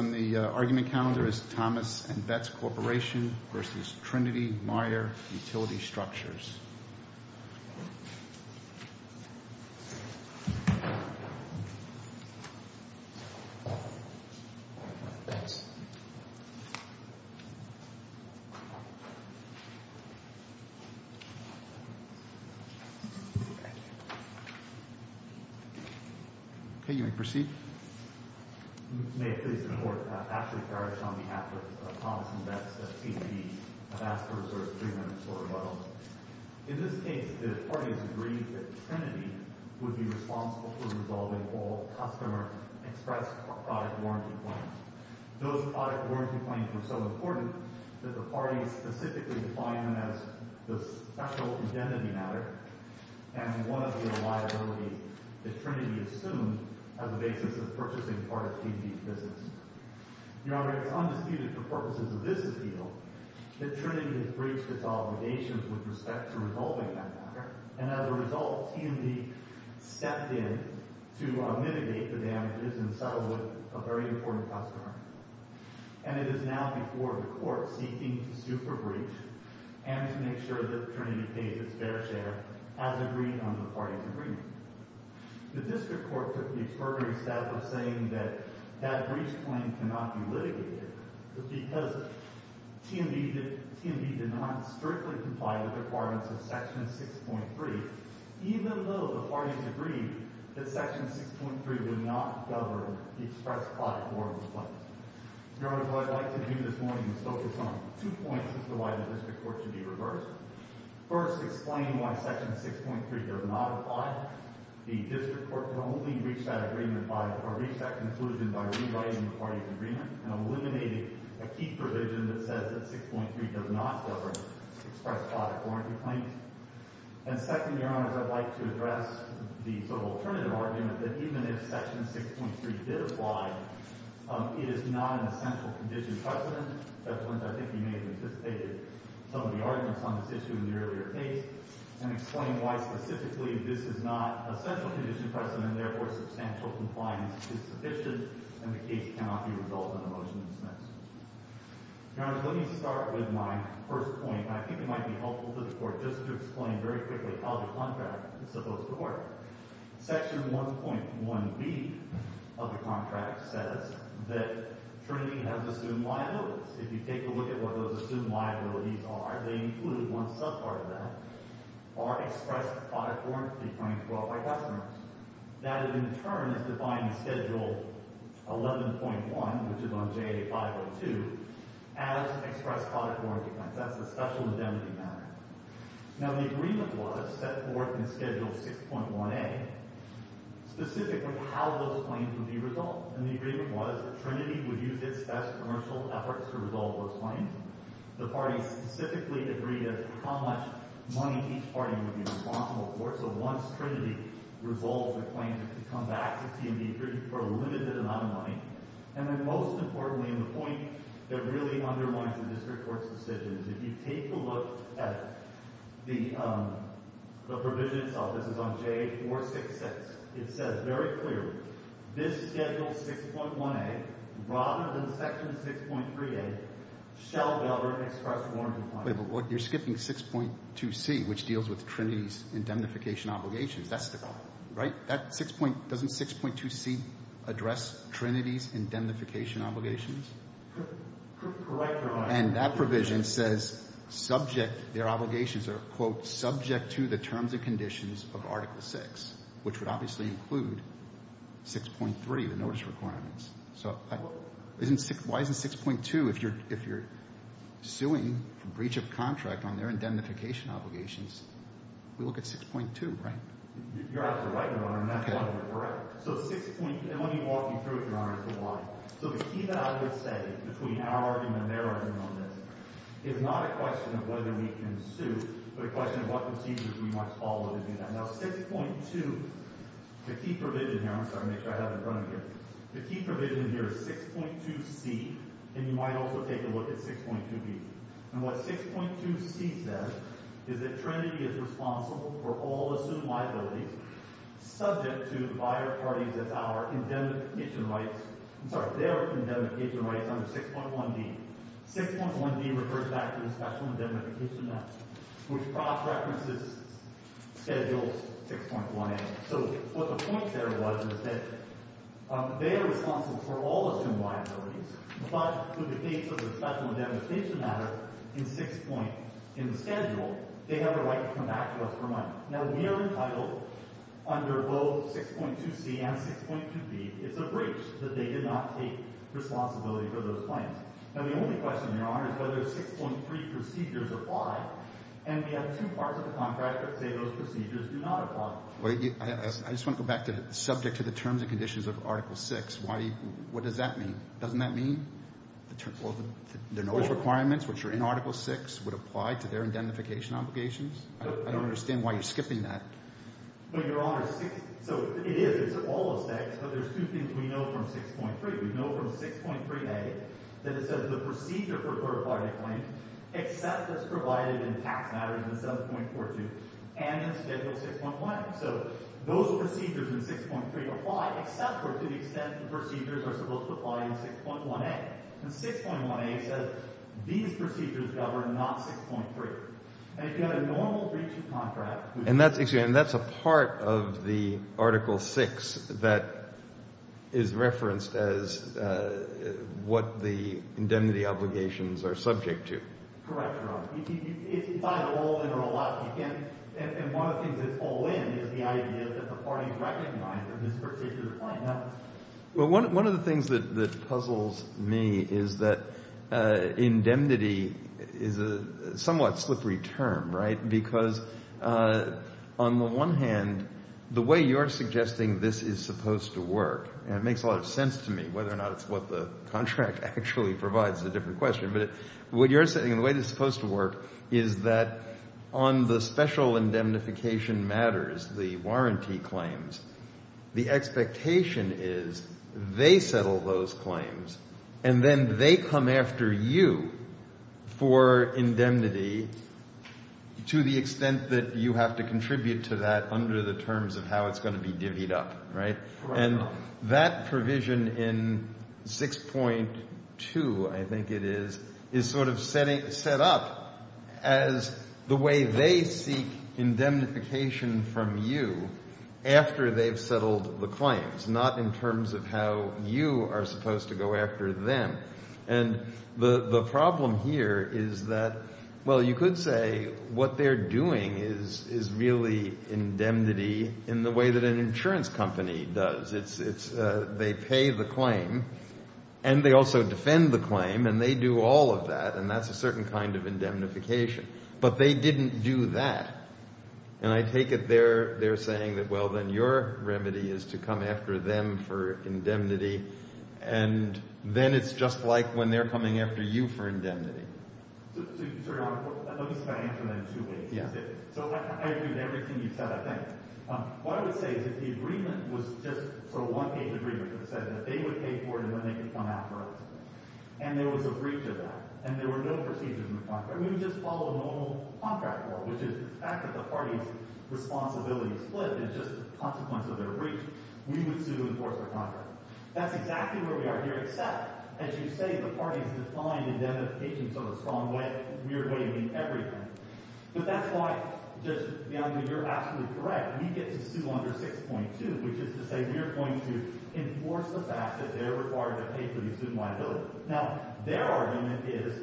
on the argument calendar is Thomas & Betts Corp. v. Trinity Meyer Utility Structures. In this case, the parties agreed that Trinity would be responsible for resolving all customer express product warranty claims. Those product warranty claims were so important that the parties specifically defined them as the special identity matter and one of the liabilities that Trinity assumed as a basis of purchasing part of T&D's business. Your Honor, it is undisputed for purposes of this appeal that Trinity has breached its obligations with respect to resolving that matter, and as a result, T&D stepped in to mitigate the damages and settle with a very important customer. And it is now before the Court seeking to sue for breach and to make sure that Trinity pays its fair share, as agreed on the parties' agreement. The District Court took the expertise out of saying that that breach claim cannot be litigated, but because T&D did not strictly comply with the requirements of Section 6.3, even though the parties agreed that Section 6.3 would not govern the express product warranty claims. Your Honor, what I'd like to do this morning is focus on two points as to why the District Court should be reversed. First, explain why Section 6.3 does not apply. The District Court can only reach that agreement by – or reach that conclusion by rewriting the parties' agreement and eliminating a key provision that says that 6.3 does not govern express product warranty claims. And second, Your Honors, I'd like to address the sort of alternative argument that even if Section 6.3 did apply, it is not an essential condition precedent. That's when I think you may have anticipated some of the arguments on this issue in the earlier case, and explain why specifically this is not an essential condition precedent, and therefore substantial compliance is sufficient, and the case cannot be resolved in a motion to dismiss. Your Honors, let me start with my first point. I think it might be helpful to the Court just to explain very quickly how the contract is supposed to work. Section 1.1b of the contract says that Trinity has assumed liabilities. If you take a look at what those assumed liabilities are, they include one subpart of that, are expressed product warranty claims brought by customers. That, in turn, is defined in Schedule 11.1, which is on JA 502, as expressed product warranty claims. That's a special indemnity matter. Now, the agreement was set forth in Schedule 6.1a specifically how those claims would be resolved. And the agreement was that Trinity would use its best commercial efforts to resolve those claims. The party specifically agreed as to how much money each party would be responsible for. So once Trinity resolves the claims, it could come back to T&D for a limited amount of money. And then most importantly, and the point that really underlines the district court's decision, is if you take a look at the provision itself, this is on JA 466. It says very clearly, this Schedule 6.1a, rather than Section 6.3a, shall never express warranty claims. But you're skipping 6.2c, which deals with Trinity's indemnification obligations. That's the problem, right? Doesn't 6.2c address Trinity's indemnification obligations? Correct Your Honor. Subject to the terms and conditions of Article 6, which would obviously include 6.3, the notice requirements. So why isn't 6.2, if you're suing for breach of contract on their indemnification obligations, we look at 6.2, right? You're absolutely right, Your Honor, and that's one of them, correct? So 6.2, and let me walk you through it, Your Honor, as to why. So the key that I would say, between our argument and their argument on this, is not a question of whether we can sue, but a question of what procedures we might follow to do that. Now 6.2, the key provision here, I'm sorry to make sure I have it in front of me here, the key provision here is 6.2c, and you might also take a look at 6.2b. And what 6.2c says is that Trinity is responsible for all assumed liabilities, subject to the buyer parties as our indemnification rights, I'm sorry, their indemnification rights under 6.1b. 6.1b refers back to the Special Indemnification Act, which cross-references Schedule 6.1a. So what the point there was is that they are responsible for all assumed liabilities, but with the case of the Special Indemnification Act in 6.1, in the Schedule, they have a right to come back to us for money. Now we are entitled, under both 6.2c and 6.2b, it's a breach that they did not take responsibility for those claims. Now the only question, Your Honor, is whether 6.3 procedures apply. And we have two parts of the contract that say those procedures do not apply. I just want to go back to subject to the terms and conditions of Article VI. What does that mean? Doesn't that mean their notice requirements, which are in Article VI, would apply to their indemnification obligations? I don't understand why you're skipping that. Well, Your Honor, so it is. It's all those things, but there's two things we know from 6.3. We know from 6.3a that it says the procedure for clarifying a claim except as provided in tax matters in 7.42 and in Schedule 6.1. So those procedures in 6.3 apply except for to the extent the procedures are supposed to apply in 6.1a. And 6.1a says these procedures govern, not 6.3. And you have a normal breach of contract. And that's a part of the Article VI that is referenced as what the indemnity obligations are subject to. Correct, Your Honor. It's either all in or a lot. And one of the things that's all in is the idea that the parties recognize that this particular claim happens. Well, one of the things that puzzles me is that indemnity is a somewhat slippery term, right, because on the one hand, the way you're suggesting this is supposed to work, and it makes a lot of sense to me whether or not it's what the contract actually provides is a different question, but what you're saying, the way this is supposed to work is that on the special indemnification matters, the warranty claims, the expectation is they settle those claims, and then they come after you for indemnity to the extent that you have to contribute to that under the terms of how it's going to be divvied up, right? And that provision in 6.2, I think it is, is sort of set up as the way they seek indemnification from you after they've settled the claims, not in terms of how you are supposed to go after them. And the problem here is that, well, you could say what they're doing is really indemnity in the way that an insurance company does. It's they pay the claim, and they also defend the claim, and they do all of that, and that's a certain kind of indemnification. But they didn't do that. And I take it they're saying that, well, then your remedy is to come after them for indemnity, and then it's just like when they're coming after you for indemnity. So, Your Honor, let me try to answer that in two ways. Yes. So I agree with everything you've said, I think. What I would say is that the agreement was just sort of a one-page agreement that said that they would pay for it, and then they could come after us. And there was a breach of that, and there were no procedures in the contract. We would just follow the normal contract rule, which is the fact that the parties' responsibilities split, and it's just a consequence of their breach. We would sue and enforce their contract. That's exactly where we are here, except, as you say, the parties' defiant indemnification is sort of a strong, weird way of doing everything. But that's why, Your Honor, you're absolutely correct. We get to sue under 6.2, which is to say we are going to enforce the fact that they're required to pay for the student liability. Now, their argument is,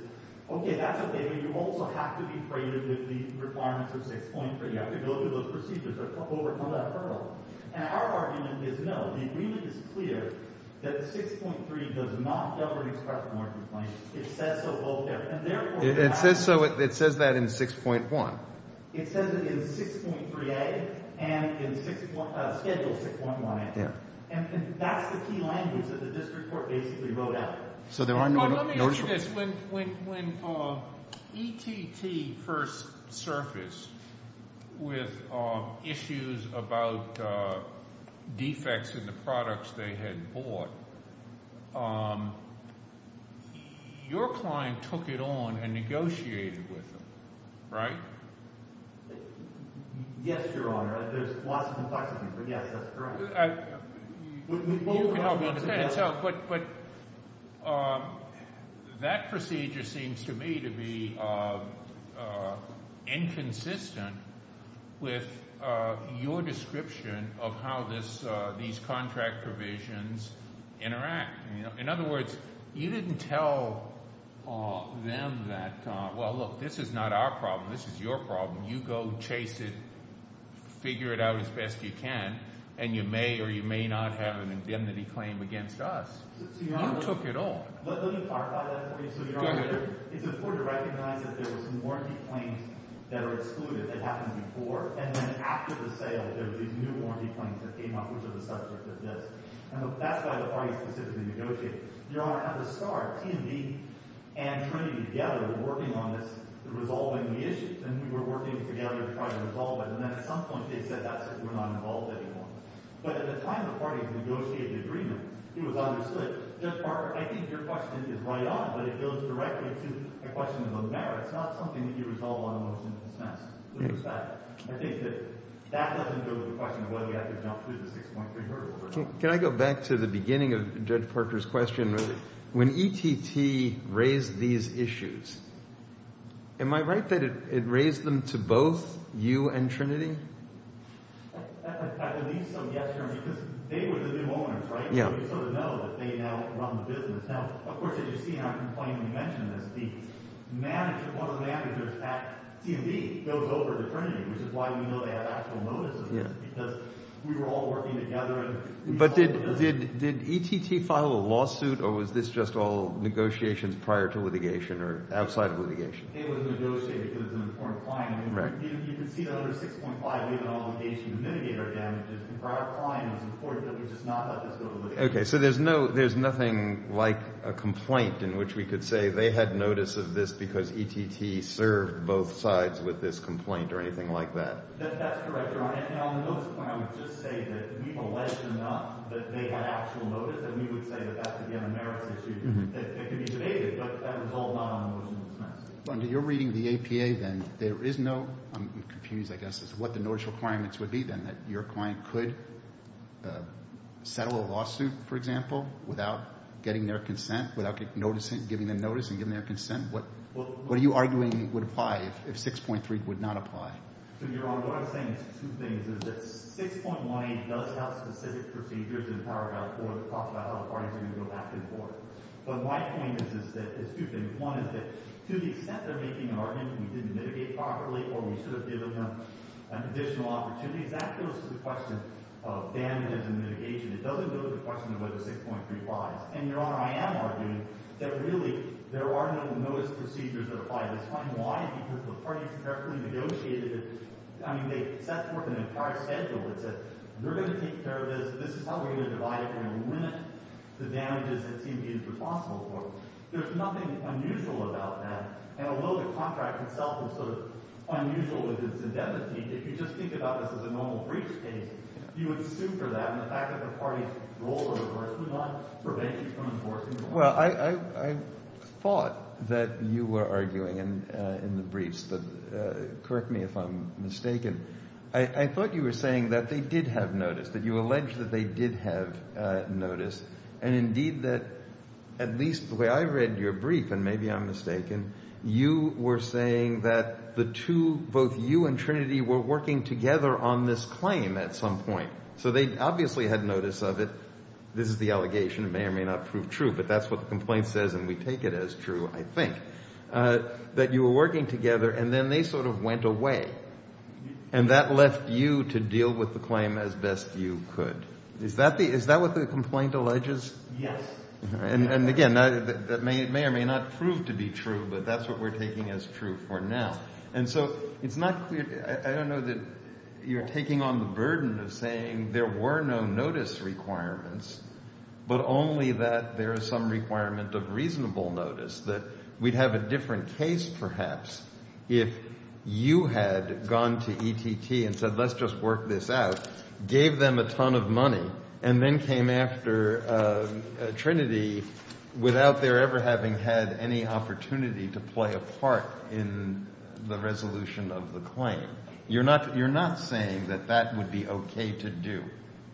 okay, that's okay, but you also have to be creative with the requirements of 6.3. You have to go through those procedures or overcome that hurdle. And our argument is no. The agreement is clear that 6.3 does not govern express market place. It says so both there. And, therefore, it has to be. It says so. It says that in 6.1. It says it in 6.3A and in Schedule 6.1A. And that's the key language that the district court basically wrote out. Let me ask you this. When ETT first surfaced with issues about defects in the products they had bought, your client took it on and negotiated with them, right? Yes, Your Honor. There's lots of complexity, but, yes, that's correct. But that procedure seems to me to be inconsistent with your description of how these contract provisions interact. In other words, you didn't tell them that, well, look, this is not our problem. This is your problem. You go chase it, figure it out as best you can, and you may or you may not have an indemnity claim against us. You took it on. Let me clarify that for you. Go ahead. It's important to recognize that there were some warranty claims that are excluded that happened before. And then after the sale, there were these new warranty claims that came up, which are the subject of this. And that's why the parties specifically negotiated. Your Honor, at the start, T&D and Trinity together were working on this, resolving the issues. And we were working together to try to resolve it. And then at some point, they said that's it. We're not involved anymore. But at the time the parties negotiated the agreement, it was understood. Judge Parker, I think your question is right on, but it goes directly to a question of the merits, not something that you resolve on a motion to dispense. I think that that doesn't go with the question of whether you have to jump through the 6.3 hurdle. Can I go back to the beginning of Judge Parker's question? When ETT raised these issues, am I right that it raised them to both you and Trinity? I believe so, yes, Your Honor, because they were the new owners, right? So we sort of know that they now run the business. Now, of course, as you see in our complaint, we mentioned this. The manager, one of the managers at T&D, goes over to Trinity, which is why we know they have actual notices. Because we were all working together. But did ETT file a lawsuit, or was this just all negotiations prior to litigation or outside of litigation? It was negotiated because it's an important client. You can see that under 6.5, we have an obligation to mitigate our damages. For our client, it was important that we just not let this go to litigation. Okay, so there's nothing like a complaint in which we could say they had notice of this because ETT served both sides with this complaint or anything like that. That's correct, Your Honor. Now, on the notice point, I would just say that we've alleged enough that they had actual notice, and we would say that that could be on the merits issue. It could be debated, but that was all non-emotional expense. Under your reading of the APA, then, there is no—I'm confused, I guess, as to what the notice requirements would be then, that your client could settle a lawsuit, for example, without getting their consent, without giving them notice and giving their consent? What are you arguing would apply if 6.3 would not apply? So, Your Honor, what I'm saying is two things, is that 6.18 does have specific procedures in Paragraph 4 that talks about how the parties are going to go back and forth. But my point is two things. One is that to the extent they're making an argument that we didn't mitigate properly or we should have given them additional opportunities, that goes to the question of damages and mitigation. It doesn't go to the question of whether 6.3 applies. And, Your Honor, I am arguing that really there are no notice procedures that apply. I was trying to—why? Because the parties directly negotiated it. I mean, they set forth an entire schedule that said, they're going to take care of this, this is how we're going to divide it, and we're going to limit the damages that seem to be impossible for them. There's nothing unusual about that. And although the contract itself is sort of unusual in its indemnity, if you just think about this as a normal breach case, you would sue for that. And the fact that the parties ruled or reversed would not prevent you from enforcing the law. Well, I thought that you were arguing in the briefs that—correct me if I'm mistaken— I thought you were saying that they did have notice, that you alleged that they did have notice, and indeed that at least the way I read your brief, and maybe I'm mistaken, you were saying that the two, both you and Trinity, were working together on this claim at some point. So they obviously had notice of it. This is the allegation. It may or may not prove true, but that's what the complaint says, and we take it as true, I think. That you were working together, and then they sort of went away. And that left you to deal with the claim as best you could. Is that what the complaint alleges? Yes. And again, that may or may not prove to be true, but that's what we're taking as true for now. And so it's not clear—I don't know that you're taking on the burden of saying there were no notice requirements, but only that there is some requirement of reasonable notice, that we'd have a different case, perhaps, if you had gone to ETT and said, let's just work this out, gave them a ton of money, and then came after Trinity without their ever having had any opportunity to play a part in the resolution of the claim. You're not saying that that would be okay to do.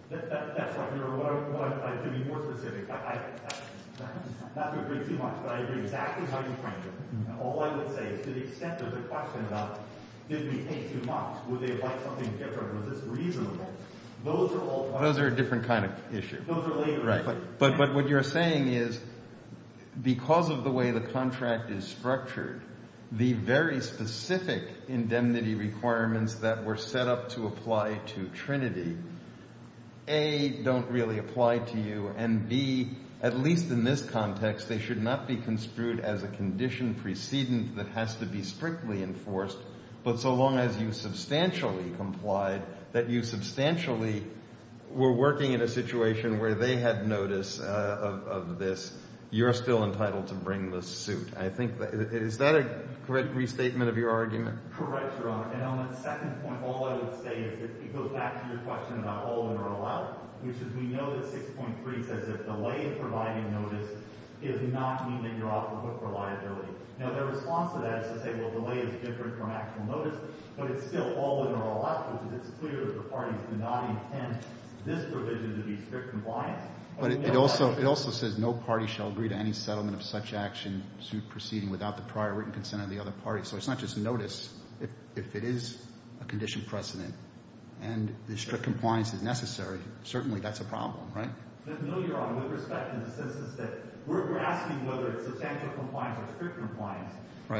That's what you're—to be more specific, not to agree too much, but I agree exactly how you framed it. All I would say is to the extent there's a question about, did we pay too much? Would they have liked something different? Was this reasonable? Those are a different kind of issue. But what you're saying is because of the way the contract is structured, the very specific indemnity requirements that were set up to apply to Trinity, A, don't really apply to you, and B, at least in this context, they should not be construed as a condition precedent that has to be strictly enforced, but so long as you substantially complied, that you substantially were working in a situation where they had notice of this, you're still entitled to bring the suit. I think that—is that a correct restatement of your argument? Correct, Your Honor. And on that second point, all I would say is it goes back to your question about all-in or all-out, which is we know that 6.3 says that delay in providing notice does not mean that you're off the hook for liability. Now, their response to that is to say, well, delay is different from actual notice, but it's still all-in or all-out, which is it's clear that the parties do not intend this provision to be strict compliance. But it also says no party shall agree to any settlement of such action suit proceeding without the prior written consent of the other party. So it's not just notice. If it is a condition precedent and the strict compliance is necessary, certainly that's a problem, right? No, Your Honor. With respect to the sentence that we're asking whether it's substantial compliance or strict compliance,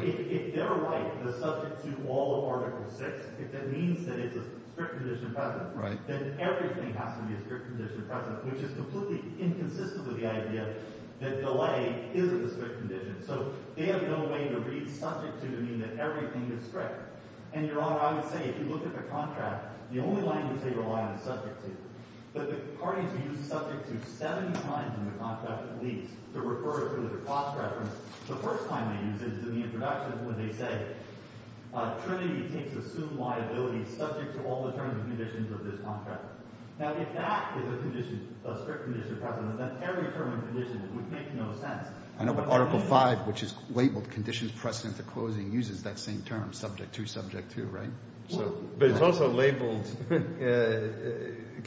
if they're right that subject to all of Article VI, if that means that it's a strict condition precedent, then everything has to be a strict condition precedent, which is completely inconsistent with the idea that delay is a strict condition. So they have no way to read subject to to mean that everything is strict. And, Your Honor, I would say if you look at the contract, the only language they rely on is subject to. But the parties use subject to 70 times in the contract at least to refer to the cost reference. The first time they use it is in the introduction when they say Trinity takes assumed liability subject to all the terms and conditions of this contract. Now, if that is a condition, a strict condition precedent, then every term and condition would make no sense. I know, but Article V, which is labeled conditions precedent to closing, uses that same term, subject to, subject to, right? But it's also labeled.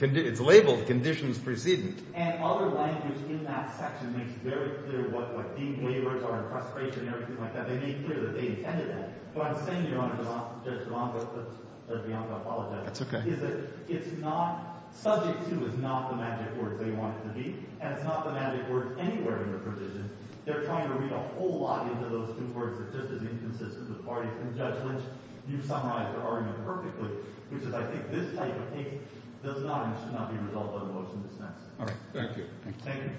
It's labeled conditions precedent. And other language in that section makes very clear what the waivers are and frustration and everything like that. They made clear that they intended that. But I'm saying, Your Honor, Judge DeLongo, Judge Bianco, I apologize. That's OK. It's not subject to is not the magic words they want it to be, and it's not the magic words anywhere in the provision. They're trying to read a whole lot into those two words that's just as inconsistent with parties. And Judge Lynch, you summarized the argument perfectly, which is I think this type of case does not and should not be resolved by the motion that's next. All right. Thank you. Thank you.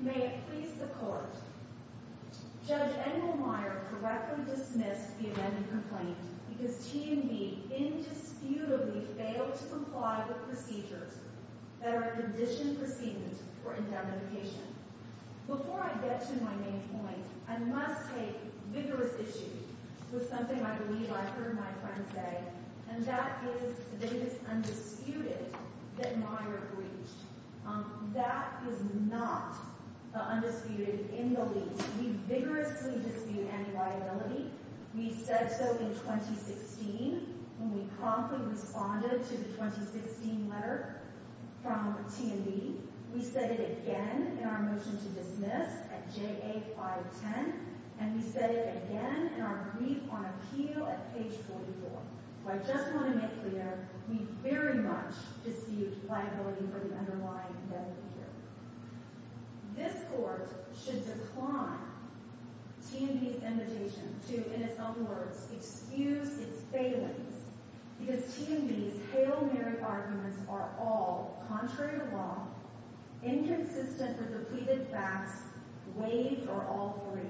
May it please the Court. Judge Engelmeyer correctly dismissed the amended complaint because T&B indisputably failed to comply with procedures that are a condition precedent for indemnification. Before I get to my main point, I must take vigorous issue with something I believe I heard my friend say, and that is Davis undisputed that Meyer breached. That is not the undisputed in the lease. We vigorously dispute any liability. We said so in 2016 when we promptly responded to the 2016 letter from T&B. We said it again in our motion to dismiss at JA 510, and we said it again in our brief on appeal at page 44. So I just want to make clear, we very much dispute liability for the underlying indemnity here. This Court should decline T&B's invitation to, in its own words, excuse its failings because T&B's hail Mary arguments are all contrary to law, inconsistent with the pleaded facts, waived or all free.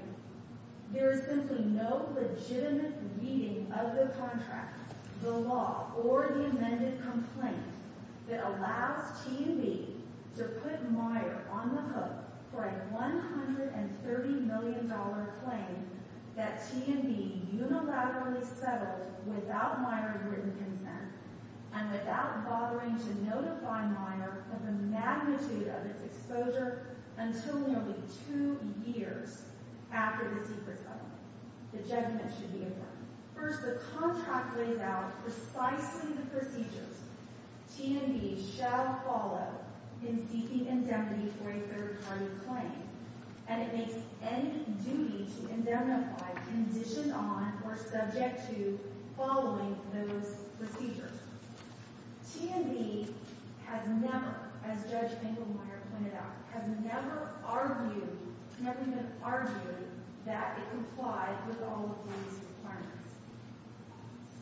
There is simply no legitimate reading of the contract, the law, or the amended complaint that allows T&B to put Meyer on the hook for a $130 million claim that T&B unilaterally settled without Meyer's written consent and without bothering to notify Meyer of the magnitude of its exposure until nearly two years after the secret settlement. The judgment should be adjourned. First, the contract lays out precisely the procedures. T&B shall follow in seeking indemnity for a third-party claim, and it makes any duty to indemnify conditioned on or subject to following those procedures. T&B has never, as Judge Engelmeyer pointed out, has never argued, never even argued that it complied with all of these requirements.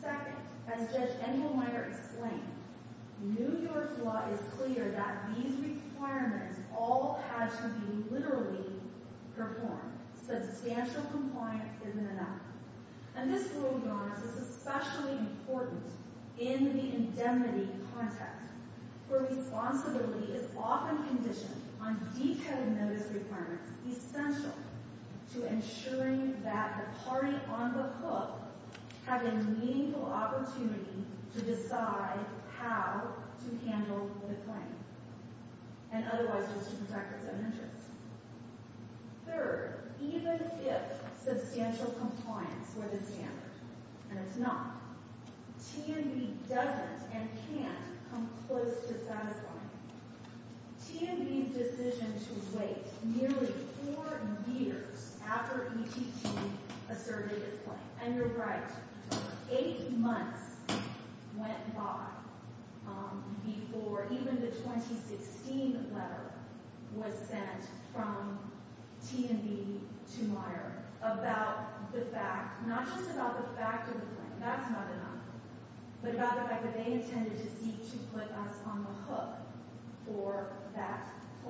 Second, as Judge Engelmeyer explained, New York's law is clear that these requirements all had to be literally performed, substantial compliance isn't enough. And this rule, to be honest, is especially important in the indemnity context, where responsibility is often conditioned on detailed notice requirements essential to ensuring that the party on the hook has a meaningful opportunity to decide how to handle the claim and otherwise to protect its own interests. Third, even if substantial compliance were the standard, and it's not, T&B doesn't and can't come close to satisfying it. T&B's decision to wait nearly four years after ETT asserted its claim. And you're right, eight months went by before even the 2016 letter was sent from T&B to Meyer about the fact, not just about the fact of the claim, that's not enough, but about the fact that they intended to seek to put us on the hook for that claim.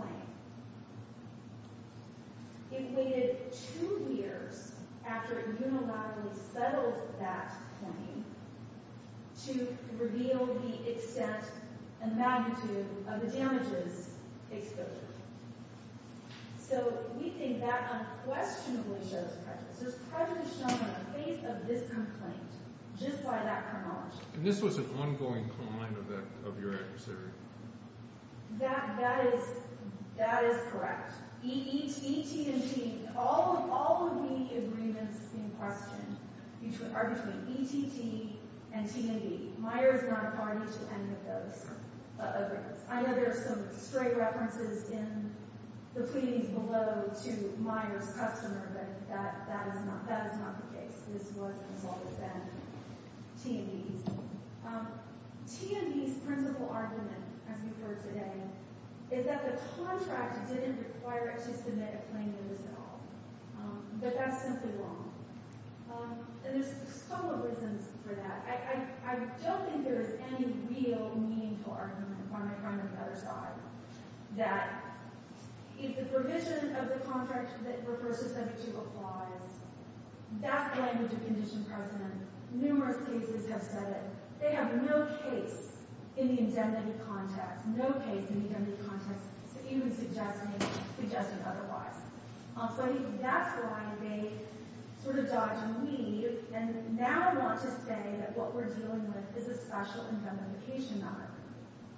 It waited two years after it unilaterally settled that claim to reveal the extent and magnitude of the damages exposed. So we think that unquestionably shows prejudice. There's prejudice shown on the face of this complaint just by that chronology. And this was an ongoing claim of your adversary? That is correct. ETT and T&B, all of the agreements in question are between ETT and T&B. Meyer is not a party to any of those agreements. I know there are some straight references in the pleadings below to Meyer's customer, but that is not the case. This work has always been T&B's. T&B's principal argument, as we've heard today, is that the contract didn't require it to submit a claim notice at all. But that's simply wrong. And there's a couple of reasons for that. I don't think there's any real meaningful argument, one way or another, that if the provision of the contract that refers to subject to applies, that language of condition present, numerous cases have said it. They have no case in the indemnity context, no case in the indemnity context even suggesting otherwise. So that's why they sort of dodge and leave, and now want to say that what we're dealing with is a special indemnification matter.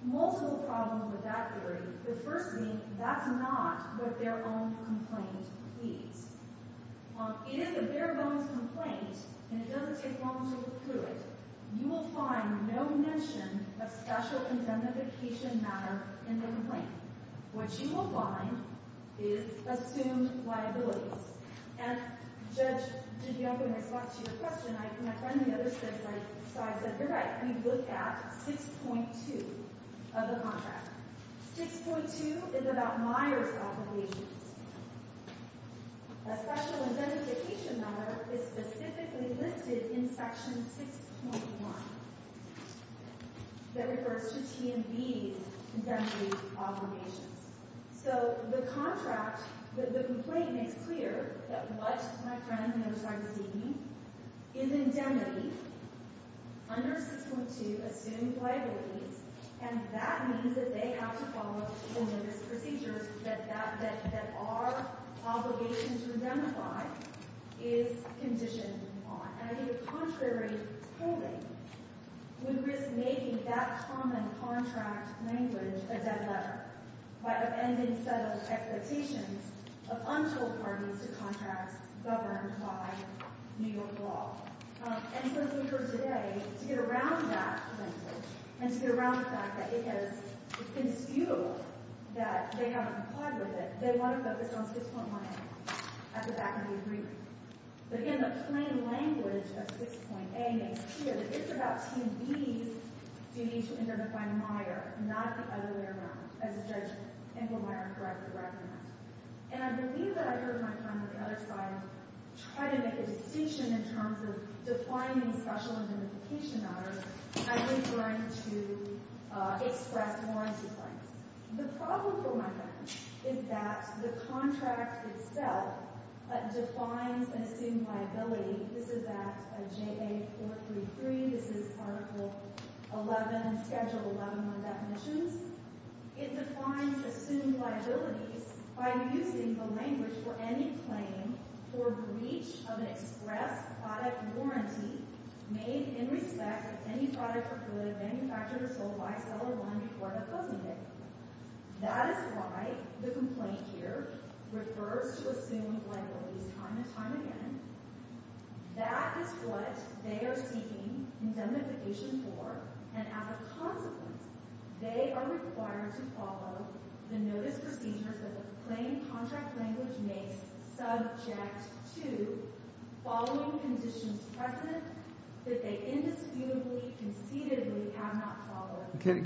Multiple problems with that theory, but first thing, that's not what their own complaint pleads. It is a bare-bones complaint, and it doesn't take long to look through it. You will find no mention of special indemnification matter in the complaint. What you will find is assumed liabilities. And, Judge DiGioco, in response to your question, my friend and the other said, so I said, you're right, we look at 6.2 of the contract. 6.2 is about Meyers' obligations. A special indemnification matter is specifically listed in Section 6.1 that refers to TMB's indemnity obligations. So the contract, the complaint makes clear that what my friend and the other side is seeking is indemnity under 6.2 assumed liabilities. And that means that they have to follow the numerous procedures that our obligation to indemnify is conditioned on. And I think a contrary ruling would risk making that common contract language a dead letter by offending settled expectations of untold parties to contracts governed by New York law. And so as we've heard today, to get around that language, and to get around the fact that it has, it's conspicuous that they haven't complied with it, they want to focus on 6.1A at the back of the agreement. But again, the plain language of 6.A makes clear that it's about TMB's duty to indemnify Meyer, not the other way around, as Judge Inglemeyer correctly recommended. And I believe that I heard my friend on the other side try to make a distinction in terms of defining special indemnification matters as referring to express warranty claims. The problem for my friend is that the contract itself defines an assumed liability. This is at JA 433. This is Article 11, Schedule 11, on definitions. It defines assumed liabilities by using the language for any claim for breach of an express product warranty made in respect of any product or good manufactured or sold by a seller before the posting date. That is why the complaint here refers to assumed liabilities time and time again. That is what they are seeking indemnification for, and as a consequence, they are required to follow the notice procedures that the plain contract language makes subject to following conditions present that they indisputably, concededly have not followed.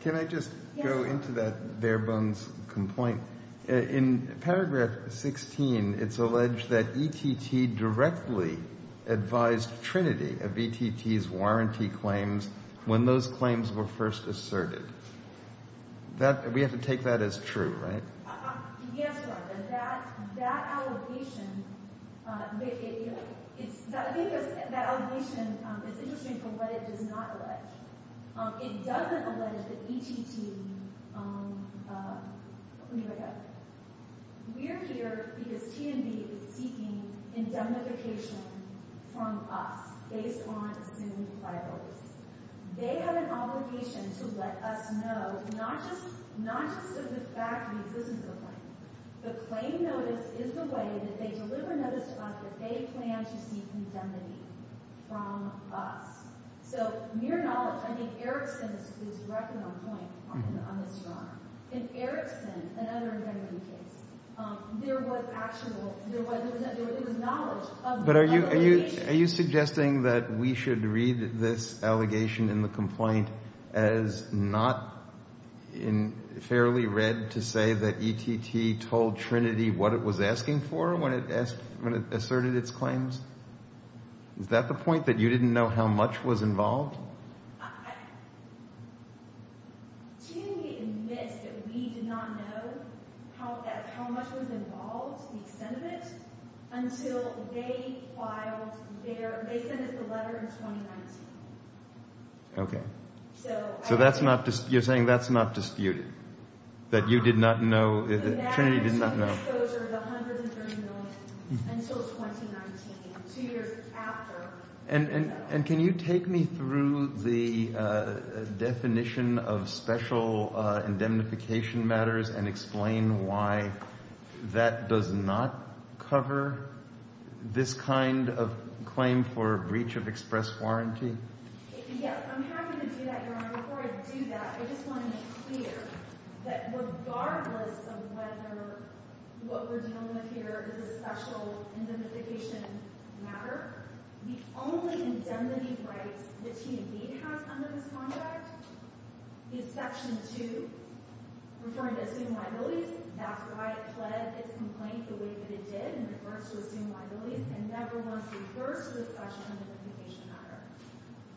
Can I just go into that Fairbanks complaint? In Paragraph 16, it's alleged that ETT directly advised Trinity of ETT's warranty claims when those claims were first asserted. We have to take that as true, right? Yes, Martha. That allegation is interesting for what it does not allege. It doesn't allege that ETT—let me look up. We're here because T&D is seeking indemnification from us based on assumed liabilities. They have an obligation to let us know, not just of the fact that this is a claim. The claim notice is the way that they deliver notice to us that they plan to seek indemnity from us. So mere knowledge. I think Erickson is directly on point on this drama. In Erickson, another indemnity case, there was knowledge of the allegation. Are you suggesting that we should read this allegation in the complaint as not fairly read to say that ETT told Trinity what it was asking for when it asserted its claims? Is that the point, that you didn't know how much was involved? T&D admits that we did not know how much was involved, the extent of it, until they filed their—they sent us the letter in 2019. Okay. So that's not—you're saying that's not disputed? That you did not know—Trinity did not know? The magnitude of the exposure is a hundred and thirty million until 2019, two years after. And can you take me through the definition of special indemnification matters and explain why that does not cover this kind of claim for breach of express warranty? Yes. I'm happy to do that, Your Honor. Before I do that, I just want to make clear that regardless of whether what we're dealing with here is a special indemnification matter, the only indemnity right that T&D has under this contract is Section 2, referring to assumed liabilities. That's why it pled its complaint the way that it did in reference to assumed liabilities and never once refers to a special indemnification matter.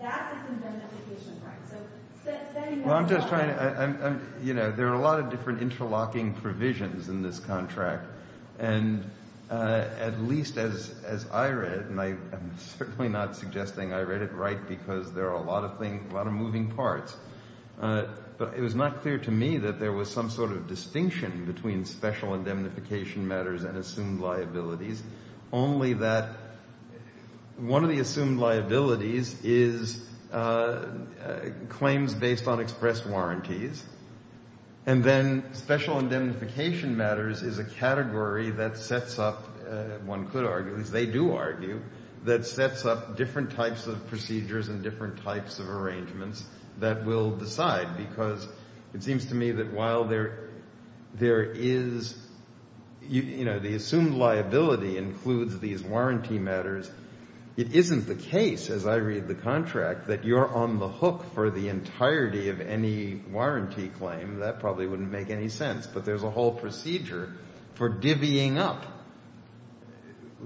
That is an indemnification right. So— Well, I'm just trying to—you know, there are a lot of different interlocking provisions in this contract. And at least as I read, and I am certainly not suggesting I read it right because there are a lot of things, a lot of moving parts, but it was not clear to me that there was some sort of distinction between special indemnification matters and assumed liabilities, only that one of the assumed liabilities is claims based on express warranties. And then special indemnification matters is a category that sets up, one could argue, at least they do argue, that sets up different types of procedures and different types of arrangements that will decide because it seems to me that while there is—you know, the assumed liability includes these warranty matters, it isn't the case, as I read the contract, that you're on the hook for the entirety of any warranty claim. That probably wouldn't make any sense. But there's a whole procedure for divvying up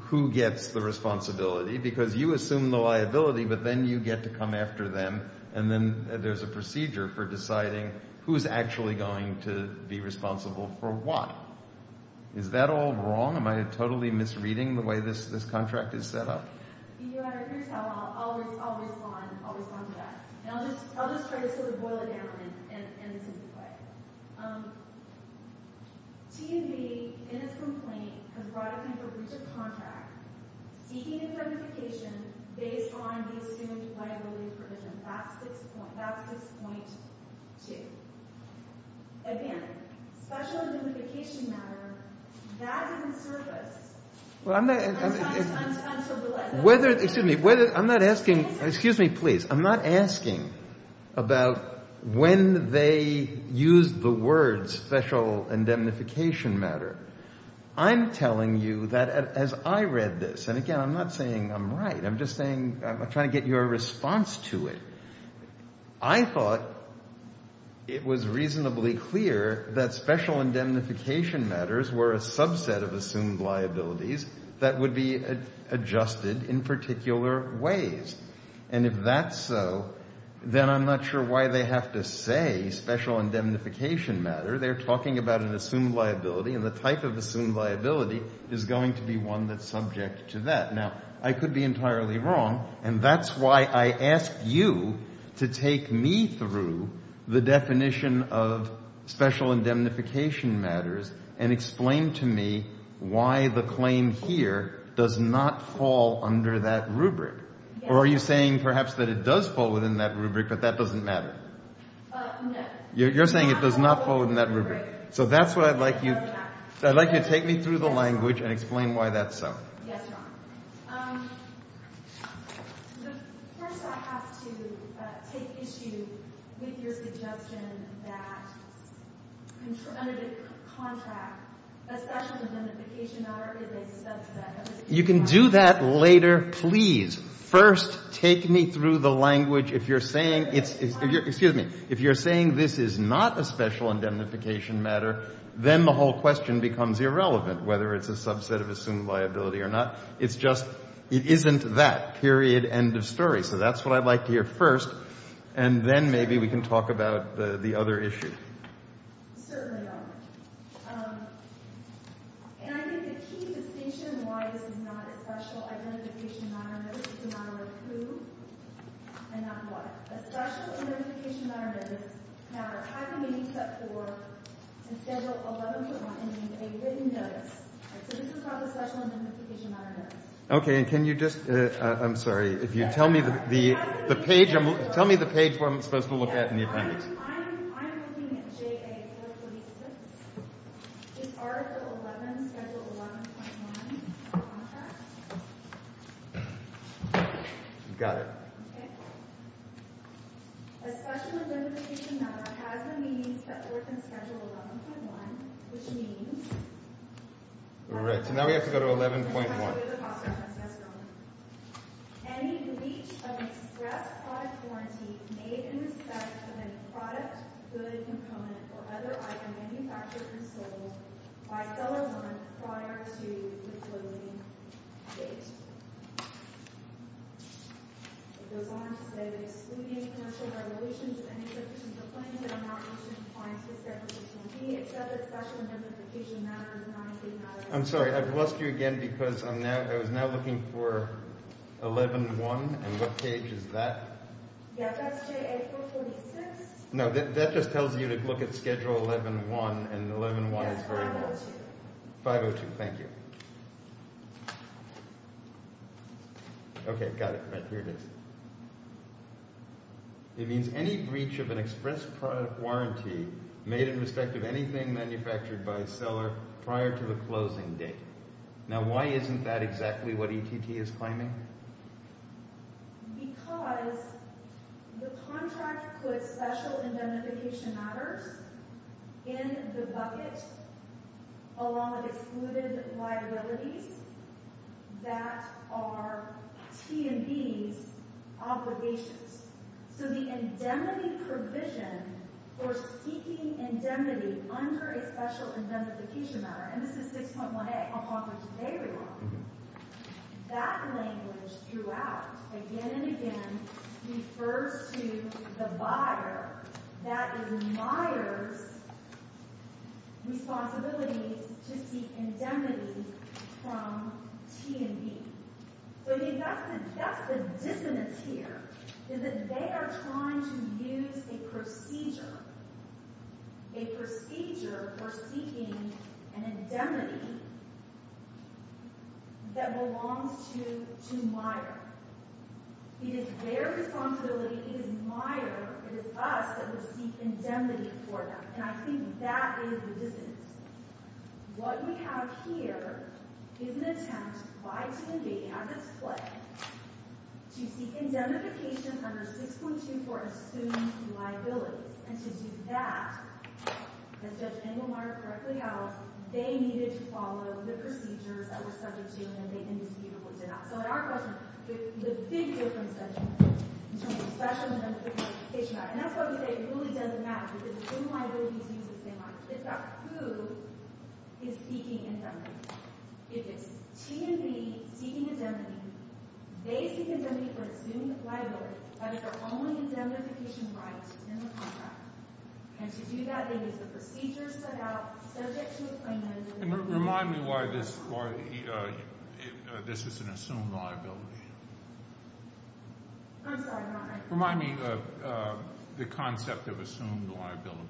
who gets the responsibility because you assume the liability, but then you get to come after them, and then there's a procedure for deciding who's actually going to be responsible for what. Is that all wrong? Am I totally misreading the way this contract is set up? Here's how I'll respond to that. I'll just try to sort of boil it down in a simple way. T&B, in its complaint, has brought a kind of breach of contract seeking indemnification based on the assumed liability provision. That's 6.2. Again, special indemnification matter, that is in service. Whether—excuse me, whether—I'm not asking—excuse me, please. I'm not asking about when they used the words special indemnification matter. I'm telling you that as I read this, and again, I'm not saying I'm right. I'm just saying—I'm trying to get your response to it. I thought it was reasonably clear that special indemnification matters were a subset of assumed liabilities that would be adjusted in particular ways. And if that's so, then I'm not sure why they have to say special indemnification matter. They're talking about an assumed liability, and the type of assumed liability is going to be one that's subject to that. Now, I could be entirely wrong, and that's why I ask you to take me through the definition of special indemnification matters and explain to me why the claim here does not fall under that rubric. Or are you saying perhaps that it does fall within that rubric, but that doesn't matter? No. You're saying it does not fall within that rubric. So that's why I'd like you—I'd like you to take me through the language and explain why that's so. Yes, Your Honor. First, I have to take issue with your suggestion that under the contract, a special indemnification matter is a subset. You can do that later, please. First, take me through the language. If you're saying it's—excuse me. If you're saying this is not a special indemnification matter, then the whole question becomes irrelevant, whether it's a subset of assumed liability or not. It's just—it isn't that, period, end of story. So that's what I'd like to hear first, and then maybe we can talk about the other issue. Certainly, Your Honor. Okay. And can you just—I'm sorry. If you tell me the page—tell me the page where I'm supposed to look at in the appendix. I'm looking at JA 426. It's Article 11, Schedule 11.1 of the contract. Got it. Okay. A special indemnification matter has the means that work in Schedule 11.1, which means— All right, so now we have to go to 11.1. Okay. I'm sorry. I've lost you again because I'm now—I was now looking for 11.1, and what page is that? Yeah, that's JA 426. No, that just tells you to look at Schedule 11.1, and 11.1 is very— Yeah, 502. 502, thank you. Okay, got it. Right, here it is. It means any breach of an express product warranty made in respect of anything manufactured by a seller prior to the closing date. Now, why isn't that exactly what ETT is claiming? Because the contract puts special indemnification matters in the bucket along with excluded liabilities that are T&B's obligations. So the indemnity provision for seeking indemnity under a special indemnification matter— again and again refers to the buyer that admires responsibilities to seek indemnity from T&B. So that's the dissonance here, is that they are trying to use a procedure, a procedure for seeking an indemnity that belongs to the buyer. It is their responsibility. It is the buyer. It is us that will seek indemnity for them, and I think that is the dissonance. What we have here is an attempt by T&B, as it's claimed, to seek indemnification under 6.2 for assumed liabilities. And to do that, as Judge Engelmark correctly held, they needed to follow the procedures that were subject to and they indisputably did not. So in our question, the big difference that you made in terms of special indemnification matters— and that's why we say it really doesn't matter, because assumed liabilities use the same logic. It's about who is seeking indemnity. If it's T&B seeking indemnity, they seek indemnity for assumed liability under their own indemnification right in the contract. And to do that, they use the procedures set out subject to the claimant. And remind me why this is an assumed liability. I'm sorry. Remind me of the concept of assumed liability.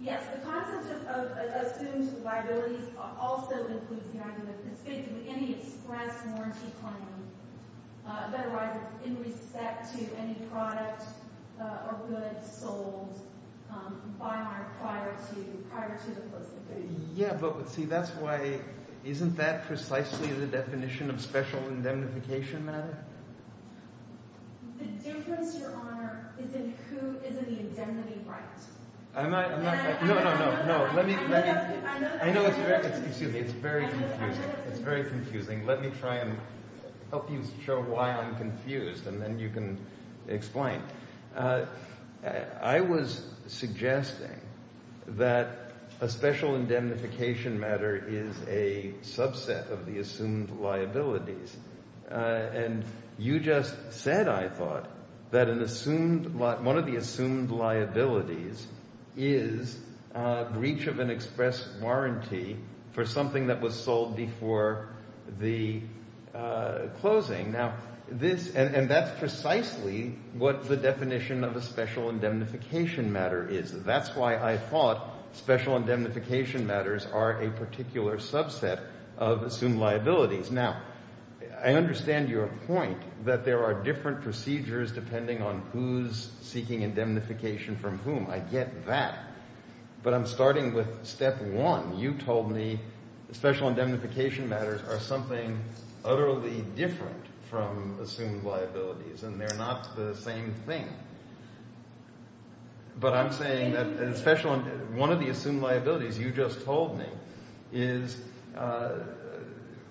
Yes. The concept of assumed liabilities also includes the idea that it's fit to any express warranty claim. That arises in respect to any product or goods sold by an acquirer prior to the person. Yeah, but see, that's why—isn't that precisely the definition of special indemnification matter? The difference, Your Honor, is in who is in the indemnity right. I'm not—no, no, no. Let me—I know it's very confusing. Let me try and help you show why I'm confused, and then you can explain. I was suggesting that a special indemnification matter is a subset of the assumed liabilities. And you just said, I thought, that an assumed—one of the assumed liabilities is breach of an express warranty for something that was sold before the closing. Now, this—and that's precisely what the definition of a special indemnification matter is. That's why I thought special indemnification matters are a particular subset of assumed liabilities. Now, I understand your point that there are different procedures depending on who's seeking indemnification from whom. I get that. But I'm starting with step one. You told me special indemnification matters are something utterly different from assumed liabilities, and they're not the same thing. But I'm saying that a special—one of the assumed liabilities you just told me is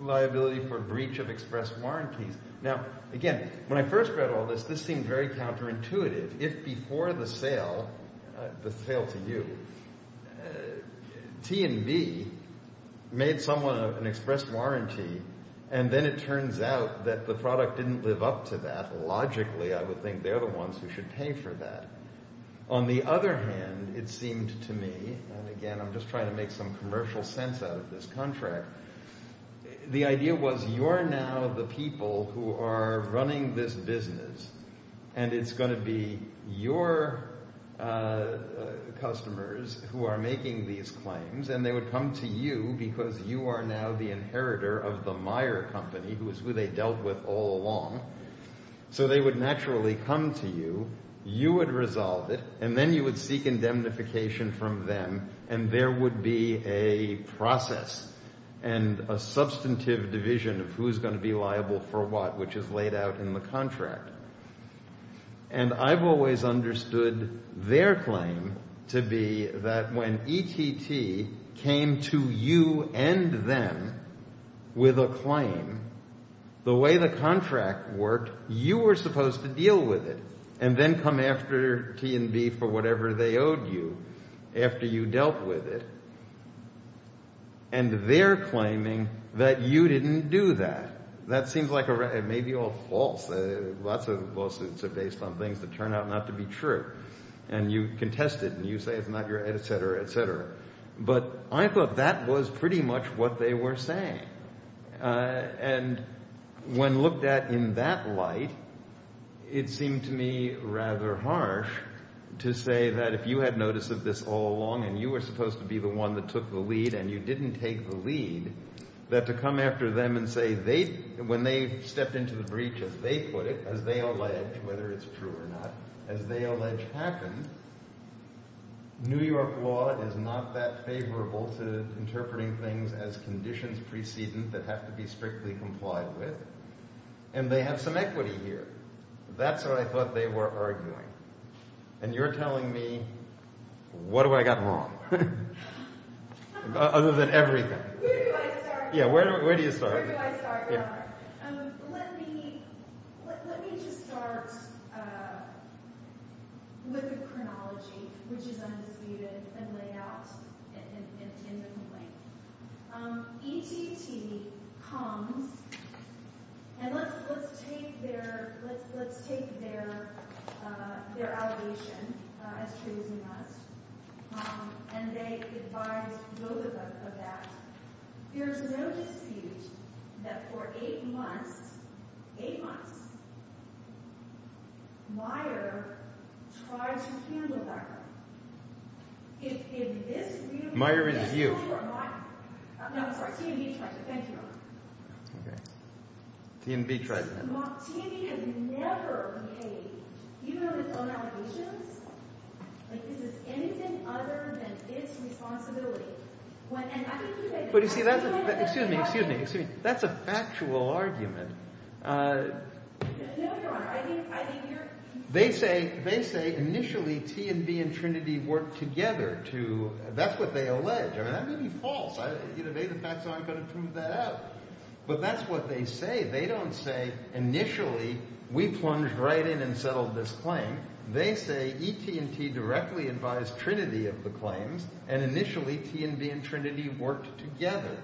liability for breach of express warranties. Now, again, when I first read all this, this seemed very counterintuitive. If before the sale—the sale to you—T&B made someone an express warranty, and then it turns out that the product didn't live up to that, logically I would think they're the ones who should pay for that. On the other hand, it seemed to me—and again, I'm just trying to make some commercial sense out of this contract—the idea was you're now the people who are running this business, and it's going to be your customers who are making these claims, and they would come to you because you are now the inheritor of the Meyer Company, who is who they dealt with all along. So they would naturally come to you, you would resolve it, and then you would seek indemnification from them, and there would be a process and a substantive division of who's going to be liable for what, which is laid out in the contract. And I've always understood their claim to be that when ETT came to you and them with a claim, the way the contract worked, you were supposed to deal with it and then come after T&B for whatever they owed you after you dealt with it. And they're claiming that you didn't do that. That seems like—it may be all false. Lots of lawsuits are based on things that turn out not to be true, and you contest it, and you say it's not your—et cetera, et cetera. and you didn't take the lead, that to come after them and say they—when they stepped into the breach as they put it, as they allege, whether it's true or not, as they allege happened, New York law is not that favorable to interpreting things as conditions precedent that have to be strictly complied with. And they have some equity here. That's what I thought they were arguing. And you're telling me, what do I got wrong? Other than everything. Yeah, where do you start? There's no dispute that for eight months, eight months, Meijer tried to handle that. If in this view— Meijer is you. No, I'm sorry. T&B tried to. Thank you. Okay. T&B tried to handle it. T&B has never made, even on its own allegations, like this is anything other than its responsibility. But you see, that's a—excuse me, excuse me, excuse me. That's a factual argument. No, Your Honor, I think you're— They say, they say initially T&B and Trinity worked together to—that's what they allege. I mean, that may be false. Either they, the facts aren't going to prove that out. But that's what they say. They don't say initially we plunged right in and settled this claim. They say E.T. and T. directly advised Trinity of the claims, and initially T&B and Trinity worked together.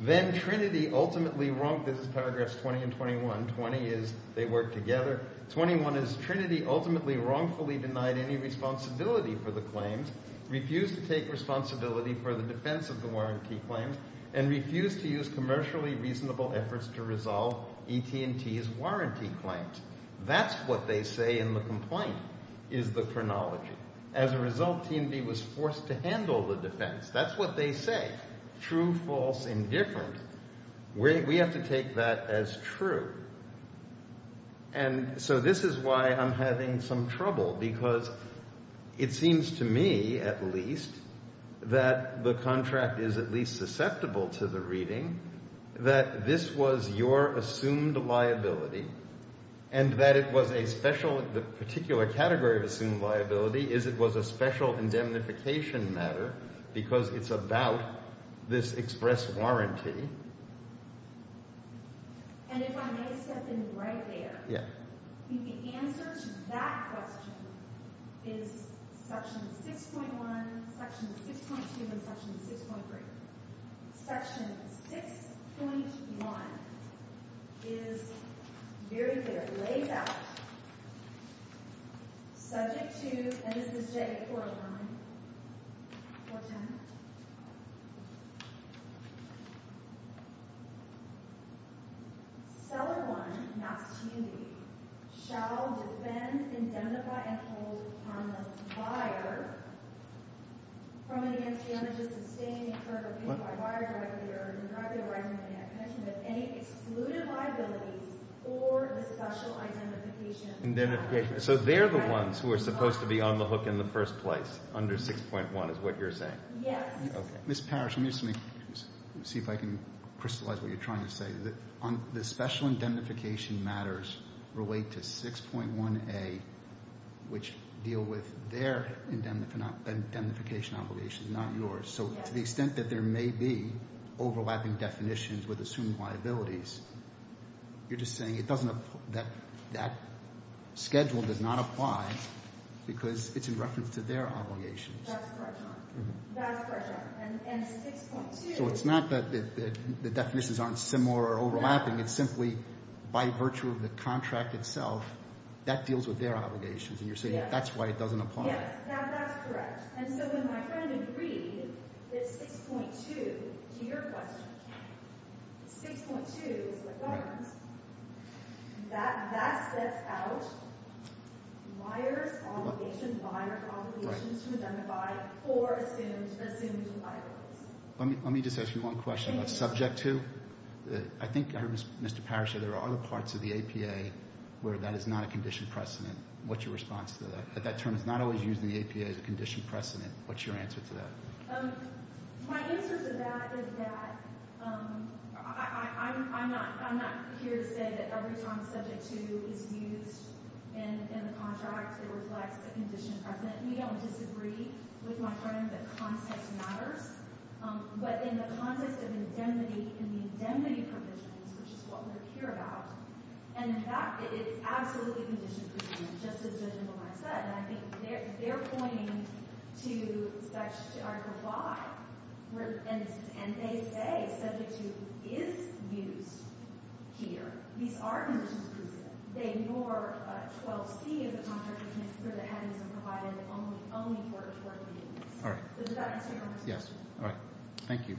Then Trinity ultimately—this is paragraphs 20 and 21. 20 is they worked together. 21 is Trinity ultimately wrongfully denied any responsibility for the claims, refused to take responsibility for the defense of the warranty claims, and refused to use commercially reasonable efforts to resolve E.T. and T.'s warranty claims. That's what they say in the complaint, is the chronology. As a result, T&B was forced to handle the defense. That's what they say. True, false, indifferent. We have to take that as true. And so this is why I'm having some trouble, because it seems to me, at least, that the contract is at least susceptible to the reading that this was your assumed liability, and that it was a special—the particular category of assumed liability is it was a special indemnification matter, because it's about this express warranty. And if I may step in right there, the answer to that question is section 6.1, section 6.2, and section 6.3. Section 6.1 is very clear. So they're the ones who are supposed to be on the hook in the first place under 6.1, is what you're saying? Yes. Ms. Parrish, let me see if I can crystallize what you're trying to say. The special indemnification matters relate to 6.1a, which deal with their indemnification obligation, not yours. So to the extent that there may be overlapping definitions with assumed liabilities, you're just saying it doesn't—that schedule does not apply because it's in reference to their obligations. That's correct. That's correct. And 6.2— So it's not that the definitions aren't similar or overlapping. It's simply by virtue of the contract itself, that deals with their obligations. And you're saying that's why it doesn't apply. Yes. That's correct. And so when my friend agreed that 6.2, to your question, 6.2 is what governs, that sets out buyer's obligation, buyer's obligation to indemnify for assumed liabilities. Let me just ask you one question about subject to. I think I heard Mr. Parrish say there are other parts of the APA where that is not a condition precedent. What's your response to that? That term is not always used in the APA as a condition precedent. What's your answer to that? My answer to that is that I'm not here to say that every time subject to is used in the contract, it reflects a condition precedent. We don't disagree with my friend that context matters. But in the context of indemnity and the indemnity provisions, which is what we're here about, and in fact, it's absolutely condition precedent, just as Judge Lamont said. And I think they're pointing to Article 5, and they say subject to is used here. These are condition precedent. They ignore 12C as a contract, which means for the headings and provided only for the 14 minutes. Does that answer your question? Yes. All right. Thank you.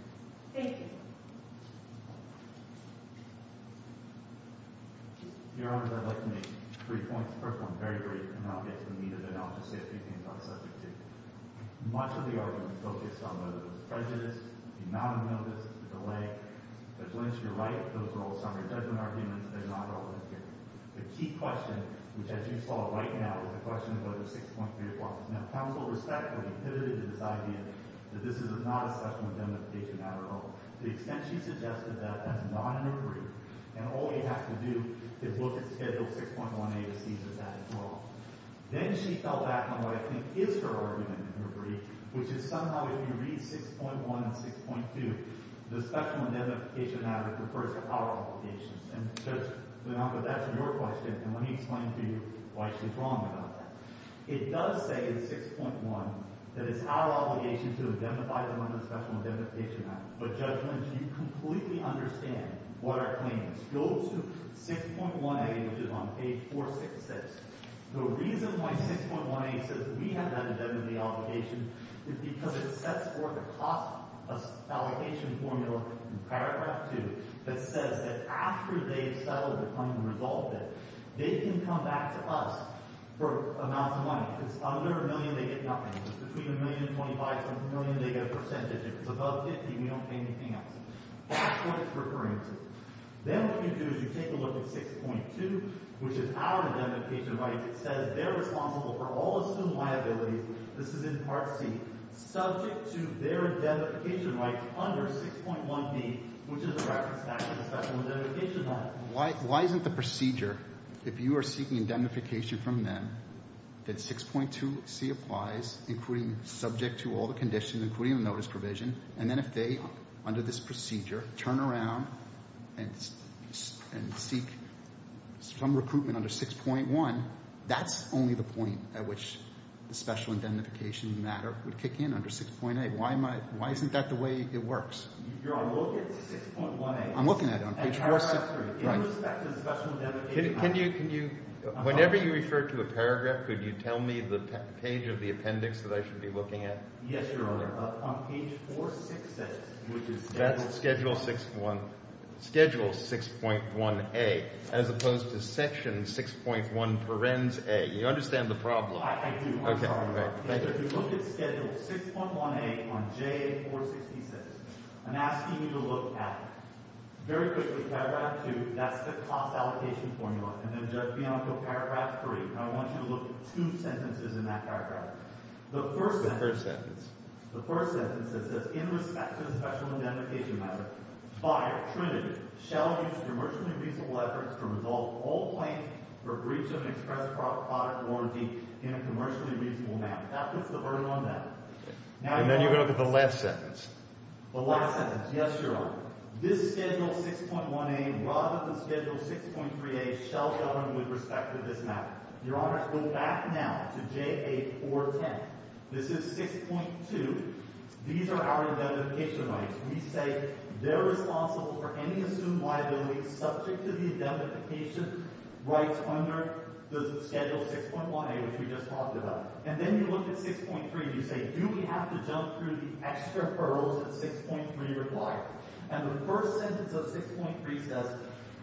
Thank you. Your Honor, I'd like to make three points. First one, very brief, and then I'll get to the meat of it. And I'll just say a few things on subject to. Much of the argument focused on whether there's prejudice, the amount of notice, the delay. But to Lynch, you're right. Those are all summary judgment arguments. They're not all in here. The key question, which as you saw right now, is a question about the 6.3 clauses. Now, counsel respectfully pivoted to this idea that this is not a special indemnification matter at all. To the extent she suggested that, that's not in her brief. And all we have to do is look at Schedule 6.1a to see that that is wrong. Then she fell back on what I think is her argument in her brief, which is somehow if you read 6.1 and 6.2, the special indemnification matter refers to power applications. And Judge Lamont, but that's your question, and let me explain to you why she's wrong about that. It does say in 6.1 that it's our obligation to identify them under the Special Indemnification Act. But Judge Lynch, you completely understand what our claim is. Go to 6.1a, which is on page 466. The reason why 6.1a says we have that indemnity obligation is because it sets forth a cost allocation formula in paragraph 2 that says that after they've settled the claim and resolved it, they can come back to us for amounts of money. If it's under a million, they get nothing. If it's between a million and 25, it's under a million, they get a percentage. If it's above 50, we don't pay anything else. That's what it's referring to. Then what you do is you take a look at 6.2, which is our indemnification rights. It says they're responsible for all assumed liabilities. This is in Part C. Subject to their indemnification rights under 6.1b, which is a reference back to the Special Indemnification Act. Why isn't the procedure, if you are seeking indemnification from them, that 6.2c applies, including subject to all the conditions, including the notice provision, and then if they, under this procedure, turn around and seek some recruitment under 6.1, that's only the point at which the special indemnification matter would kick in under 6.8. Why isn't that the way it works? You're on look at 6.1a. I'm looking at it on page 463. In respect to the Special Indemnification Act. Whenever you refer to a paragraph, could you tell me the page of the appendix that I should be looking at? Yes, Your Honor. On page 466. That's Schedule 6.1a, as opposed to Section 6.1 Parens A. You understand the problem. I do. If you look at Schedule 6.1a on J466, I'm asking you to look at, very quickly, paragraph 2. That's the cost allocation formula. And then, Judge Bianco, paragraph 3. I want you to look at two sentences in that paragraph. The first sentence. The first sentence. The first sentence that says, in respect to the special indemnification matter, FIRE, Trinity, shall use commercially reasonable efforts to resolve all claims for breach of an express product warranty in a commercially reasonable manner. That puts the burden on them. And then you're going to look at the last sentence. The last sentence. Yes, Your Honor. This Schedule 6.1a, rather than Schedule 6.3a, shall govern with respect to this matter. Your Honor, go back now to JA 410. This is 6.2. These are our indemnification rights. We say they're responsible for any assumed liability subject to the indemnification rights under the Schedule 6.1a, which we just talked about. And then you look at 6.3. You say, do we have to jump through the extra referrals that 6.3 requires? And the first sentence of 6.3 says,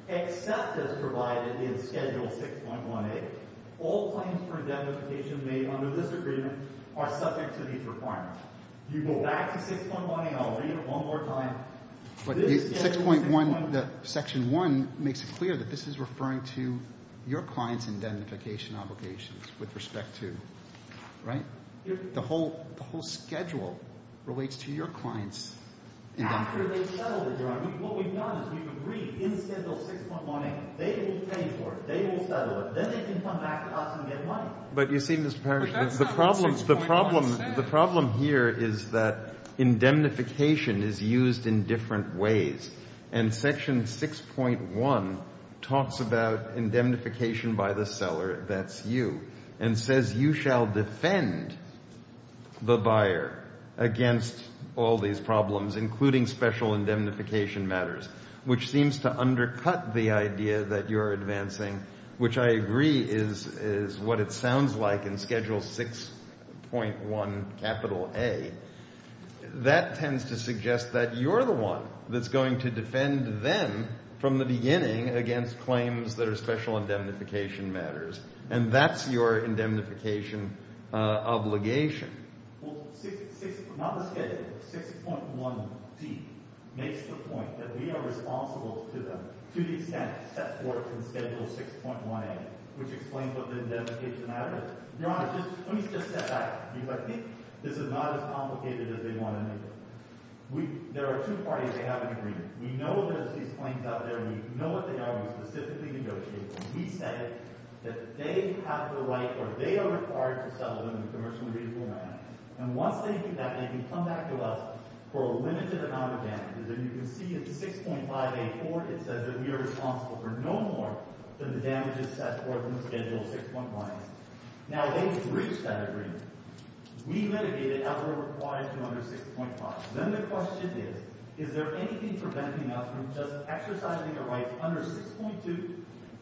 except as provided in Schedule 6.1a, all claims for indemnification made under this agreement are subject to these requirements. You go back to 6.1a. I'll read it one more time. But 6.1, Section 1 makes it clear that this is referring to your client's indemnification obligations with respect to, right? The whole schedule relates to your client's indemnification. After they've settled it, Your Honor. What we've done is we've agreed in Schedule 6.1a, they will pay for it. They will settle it. Then they can come back to us and get money. But you see, Mr. Powers, the problem here is that indemnification is used in different ways. And Section 6.1 talks about indemnification by the seller, that's you, and says you shall defend the buyer against all these problems, including special indemnification matters, which seems to undercut the idea that you're advancing, which I agree is what it sounds like in Schedule 6.1A. That tends to suggest that you're the one that's going to defend them from the beginning against claims that are special indemnification matters. And that's your indemnification obligation. Well, not the schedule, but 6.1d makes the point that we are responsible to them to the extent set forth in Schedule 6.1a, which explains what the indemnification matter is. Your Honor, let me just step back, because I think this is not as complicated as they want to make it. There are two parties that have an agreement. We know there's these claims out there. We know what they are. We specifically negotiate. We set it that they have the right or they are required to sell them in a commercially reasonable amount. And once they do that, they can come back to us for a limited amount of damages. And you can see in 6.5a.4, it says that we are responsible for no more than the damages set forth in Schedule 6.1a. Now, they have reached that agreement. We litigate it as we're required to under 6.5. Then the question is, is there anything preventing us from just exercising the rights under 6.2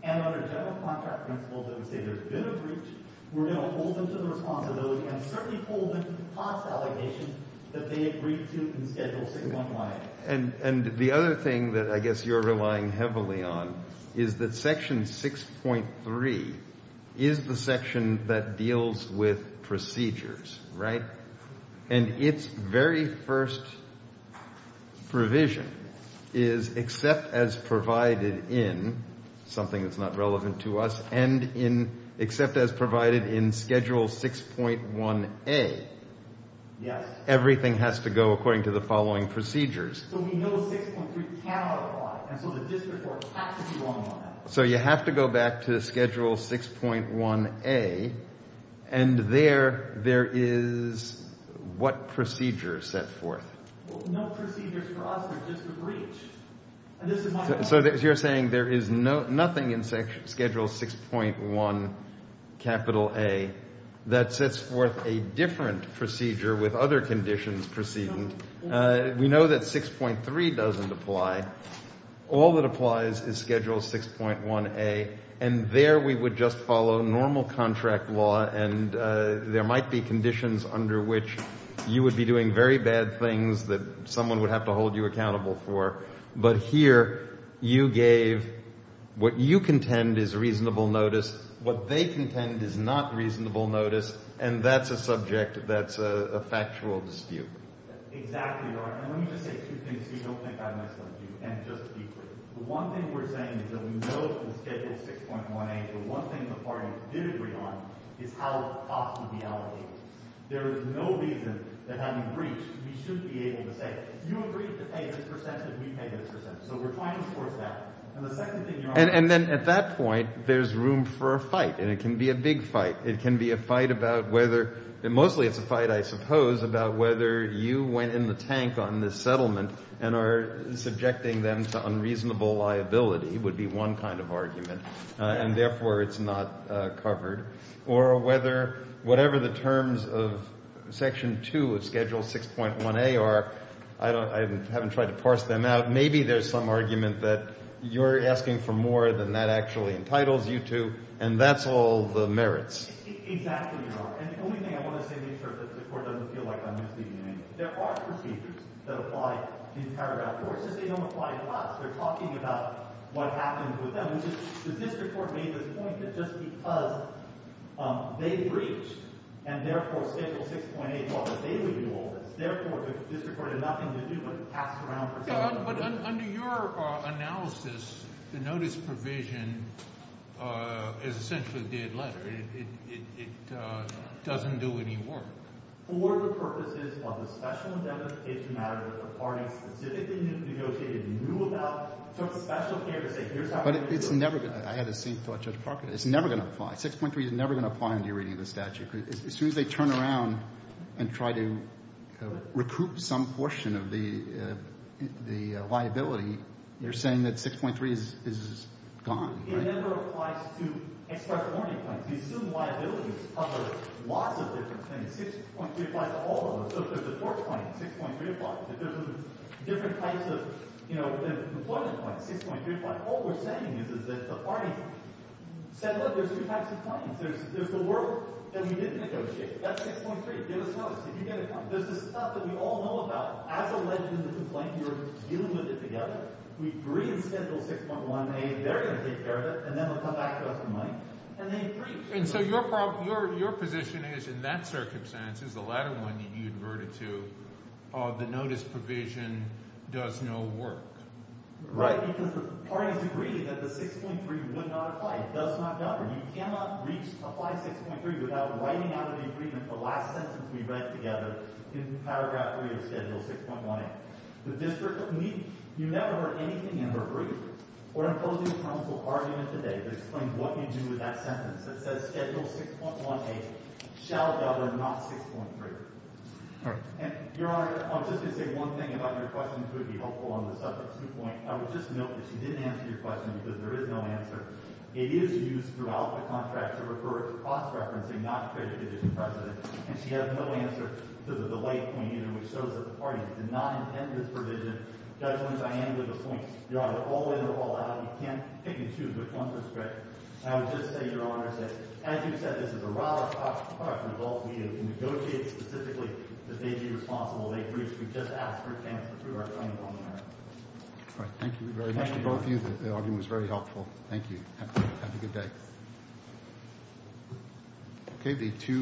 and under general contract principles that would say there's been a breach? We're going to hold them to the responsibility and certainly hold them to the cost allegations that they agreed to in Schedule 6.1a. And the other thing that I guess you're relying heavily on is that Section 6.3 is the section that deals with procedures, right? And its very first provision is except as provided in something that's not relevant to us and in except as provided in Schedule 6.1a. Yes. Everything has to go according to the following procedures. So we know 6.3 cannot apply. And so the district court has to be wrong on that. So you have to go back to Schedule 6.1a. And there, there is what procedure set forth? No procedures for us. It's just a breach. So you're saying there is nothing in Schedule 6.1A that sets forth a different procedure with other conditions proceeding. We know that 6.3 doesn't apply. All that applies is Schedule 6.1a. And there we would just follow normal contract law. And there might be conditions under which you would be doing very bad things that someone would have to hold you accountable for. But here you gave what you contend is reasonable notice. What they contend is not reasonable notice. And that's a subject that's a factual dispute. Exactly, Your Honor. And let me just say two things so you don't think I've misled you. And just be clear. The one thing we're saying is that we know in Schedule 6.1a, the one thing the party did agree on is how the cost would be allocated. There is no reason that having breached, we should be able to say, you agreed to pay this percentage, we pay this percentage. So we're trying to force that. And the second thing, Your Honor. And then at that point, there's room for a fight. And it can be a big fight. It can be a fight about whether, and mostly it's a fight, I suppose, about whether you went in the tank on this settlement and are subjecting them to unreasonable liability would be one kind of argument. And therefore, it's not covered. Or whether whatever the terms of Section 2 of Schedule 6.1a are, I haven't tried to parse them out. Maybe there's some argument that you're asking for more than that actually entitles you to. And that's all the merits. Exactly, Your Honor. And the only thing I want to say to make sure that the court doesn't feel like I'm misleading anyone. There are procedures that apply in paragraph 4. It's just they don't apply to us. They're talking about what happened with them. The district court made this point that just because they breached and therefore Schedule 6.8, they would do all this. Therefore, the district court had nothing to do but pass around percentage. But under your analysis, the notice provision is essentially a dead letter. It doesn't do any work. For the purposes of the special indemnification matter that the parties specifically negotiated knew about. So it's a special case to say here's how we're going to do it. But it's never going to. I had the same thought Judge Parker. It's never going to apply. 6.3 is never going to apply under your reading of the statute. As soon as they turn around and try to recoup some portion of the liability, you're saying that 6.3 is gone, right? It never applies to extra warning claims. You assume liabilities of lots of different things. 6.3 applies to all of them. So if there's a tort claim, 6.3 applies. If there's different types of, you know, employment claims, 6.3 applies. All we're saying is that the parties said, look, there's three types of claims. There's the work that we didn't negotiate. That's 6.3. Give us notice. If you get a claim. There's the stuff that we all know about. As a legend of the complaint, we're dealing with it together. We've re-instituted 6.1a. They're going to take care of it, and then they'll come back to us for money. And they agree. And so your position is, in that circumstance, is the latter one that you adverted to, the notice provision does no work. Right. Because the parties agreed that the 6.3 would not apply. It does not matter. You cannot reach apply 6.3 without writing out of the agreement the last sentence we read together in Paragraph 3 of Schedule 6.1a. You never heard anything in her brief or in opposing counsel's argument today that explains what you do with that sentence that says Schedule 6.1a shall govern not 6.3. And, Your Honor, I'm just going to say one thing about your question, which would be helpful on the subject. I would just note that she didn't answer your question because there is no answer. It is used throughout the contract to refer to cross-referencing not credited to the President. And she has no answer to the late point in it, which shows that the parties did not intend this provision. Judge Williams, I am with a point. Your Honor, all in or all out, you can't pick and choose which one is correct. And I would just say, Your Honor, that as you said, this is a rather tough, tough result. We have negotiated specifically that they be responsible. They've reached. We've just asked for a chance to prove our claim on the matter. All right. Thank you very much to both of you. The argument was very helpful. Thank you. Have a good day.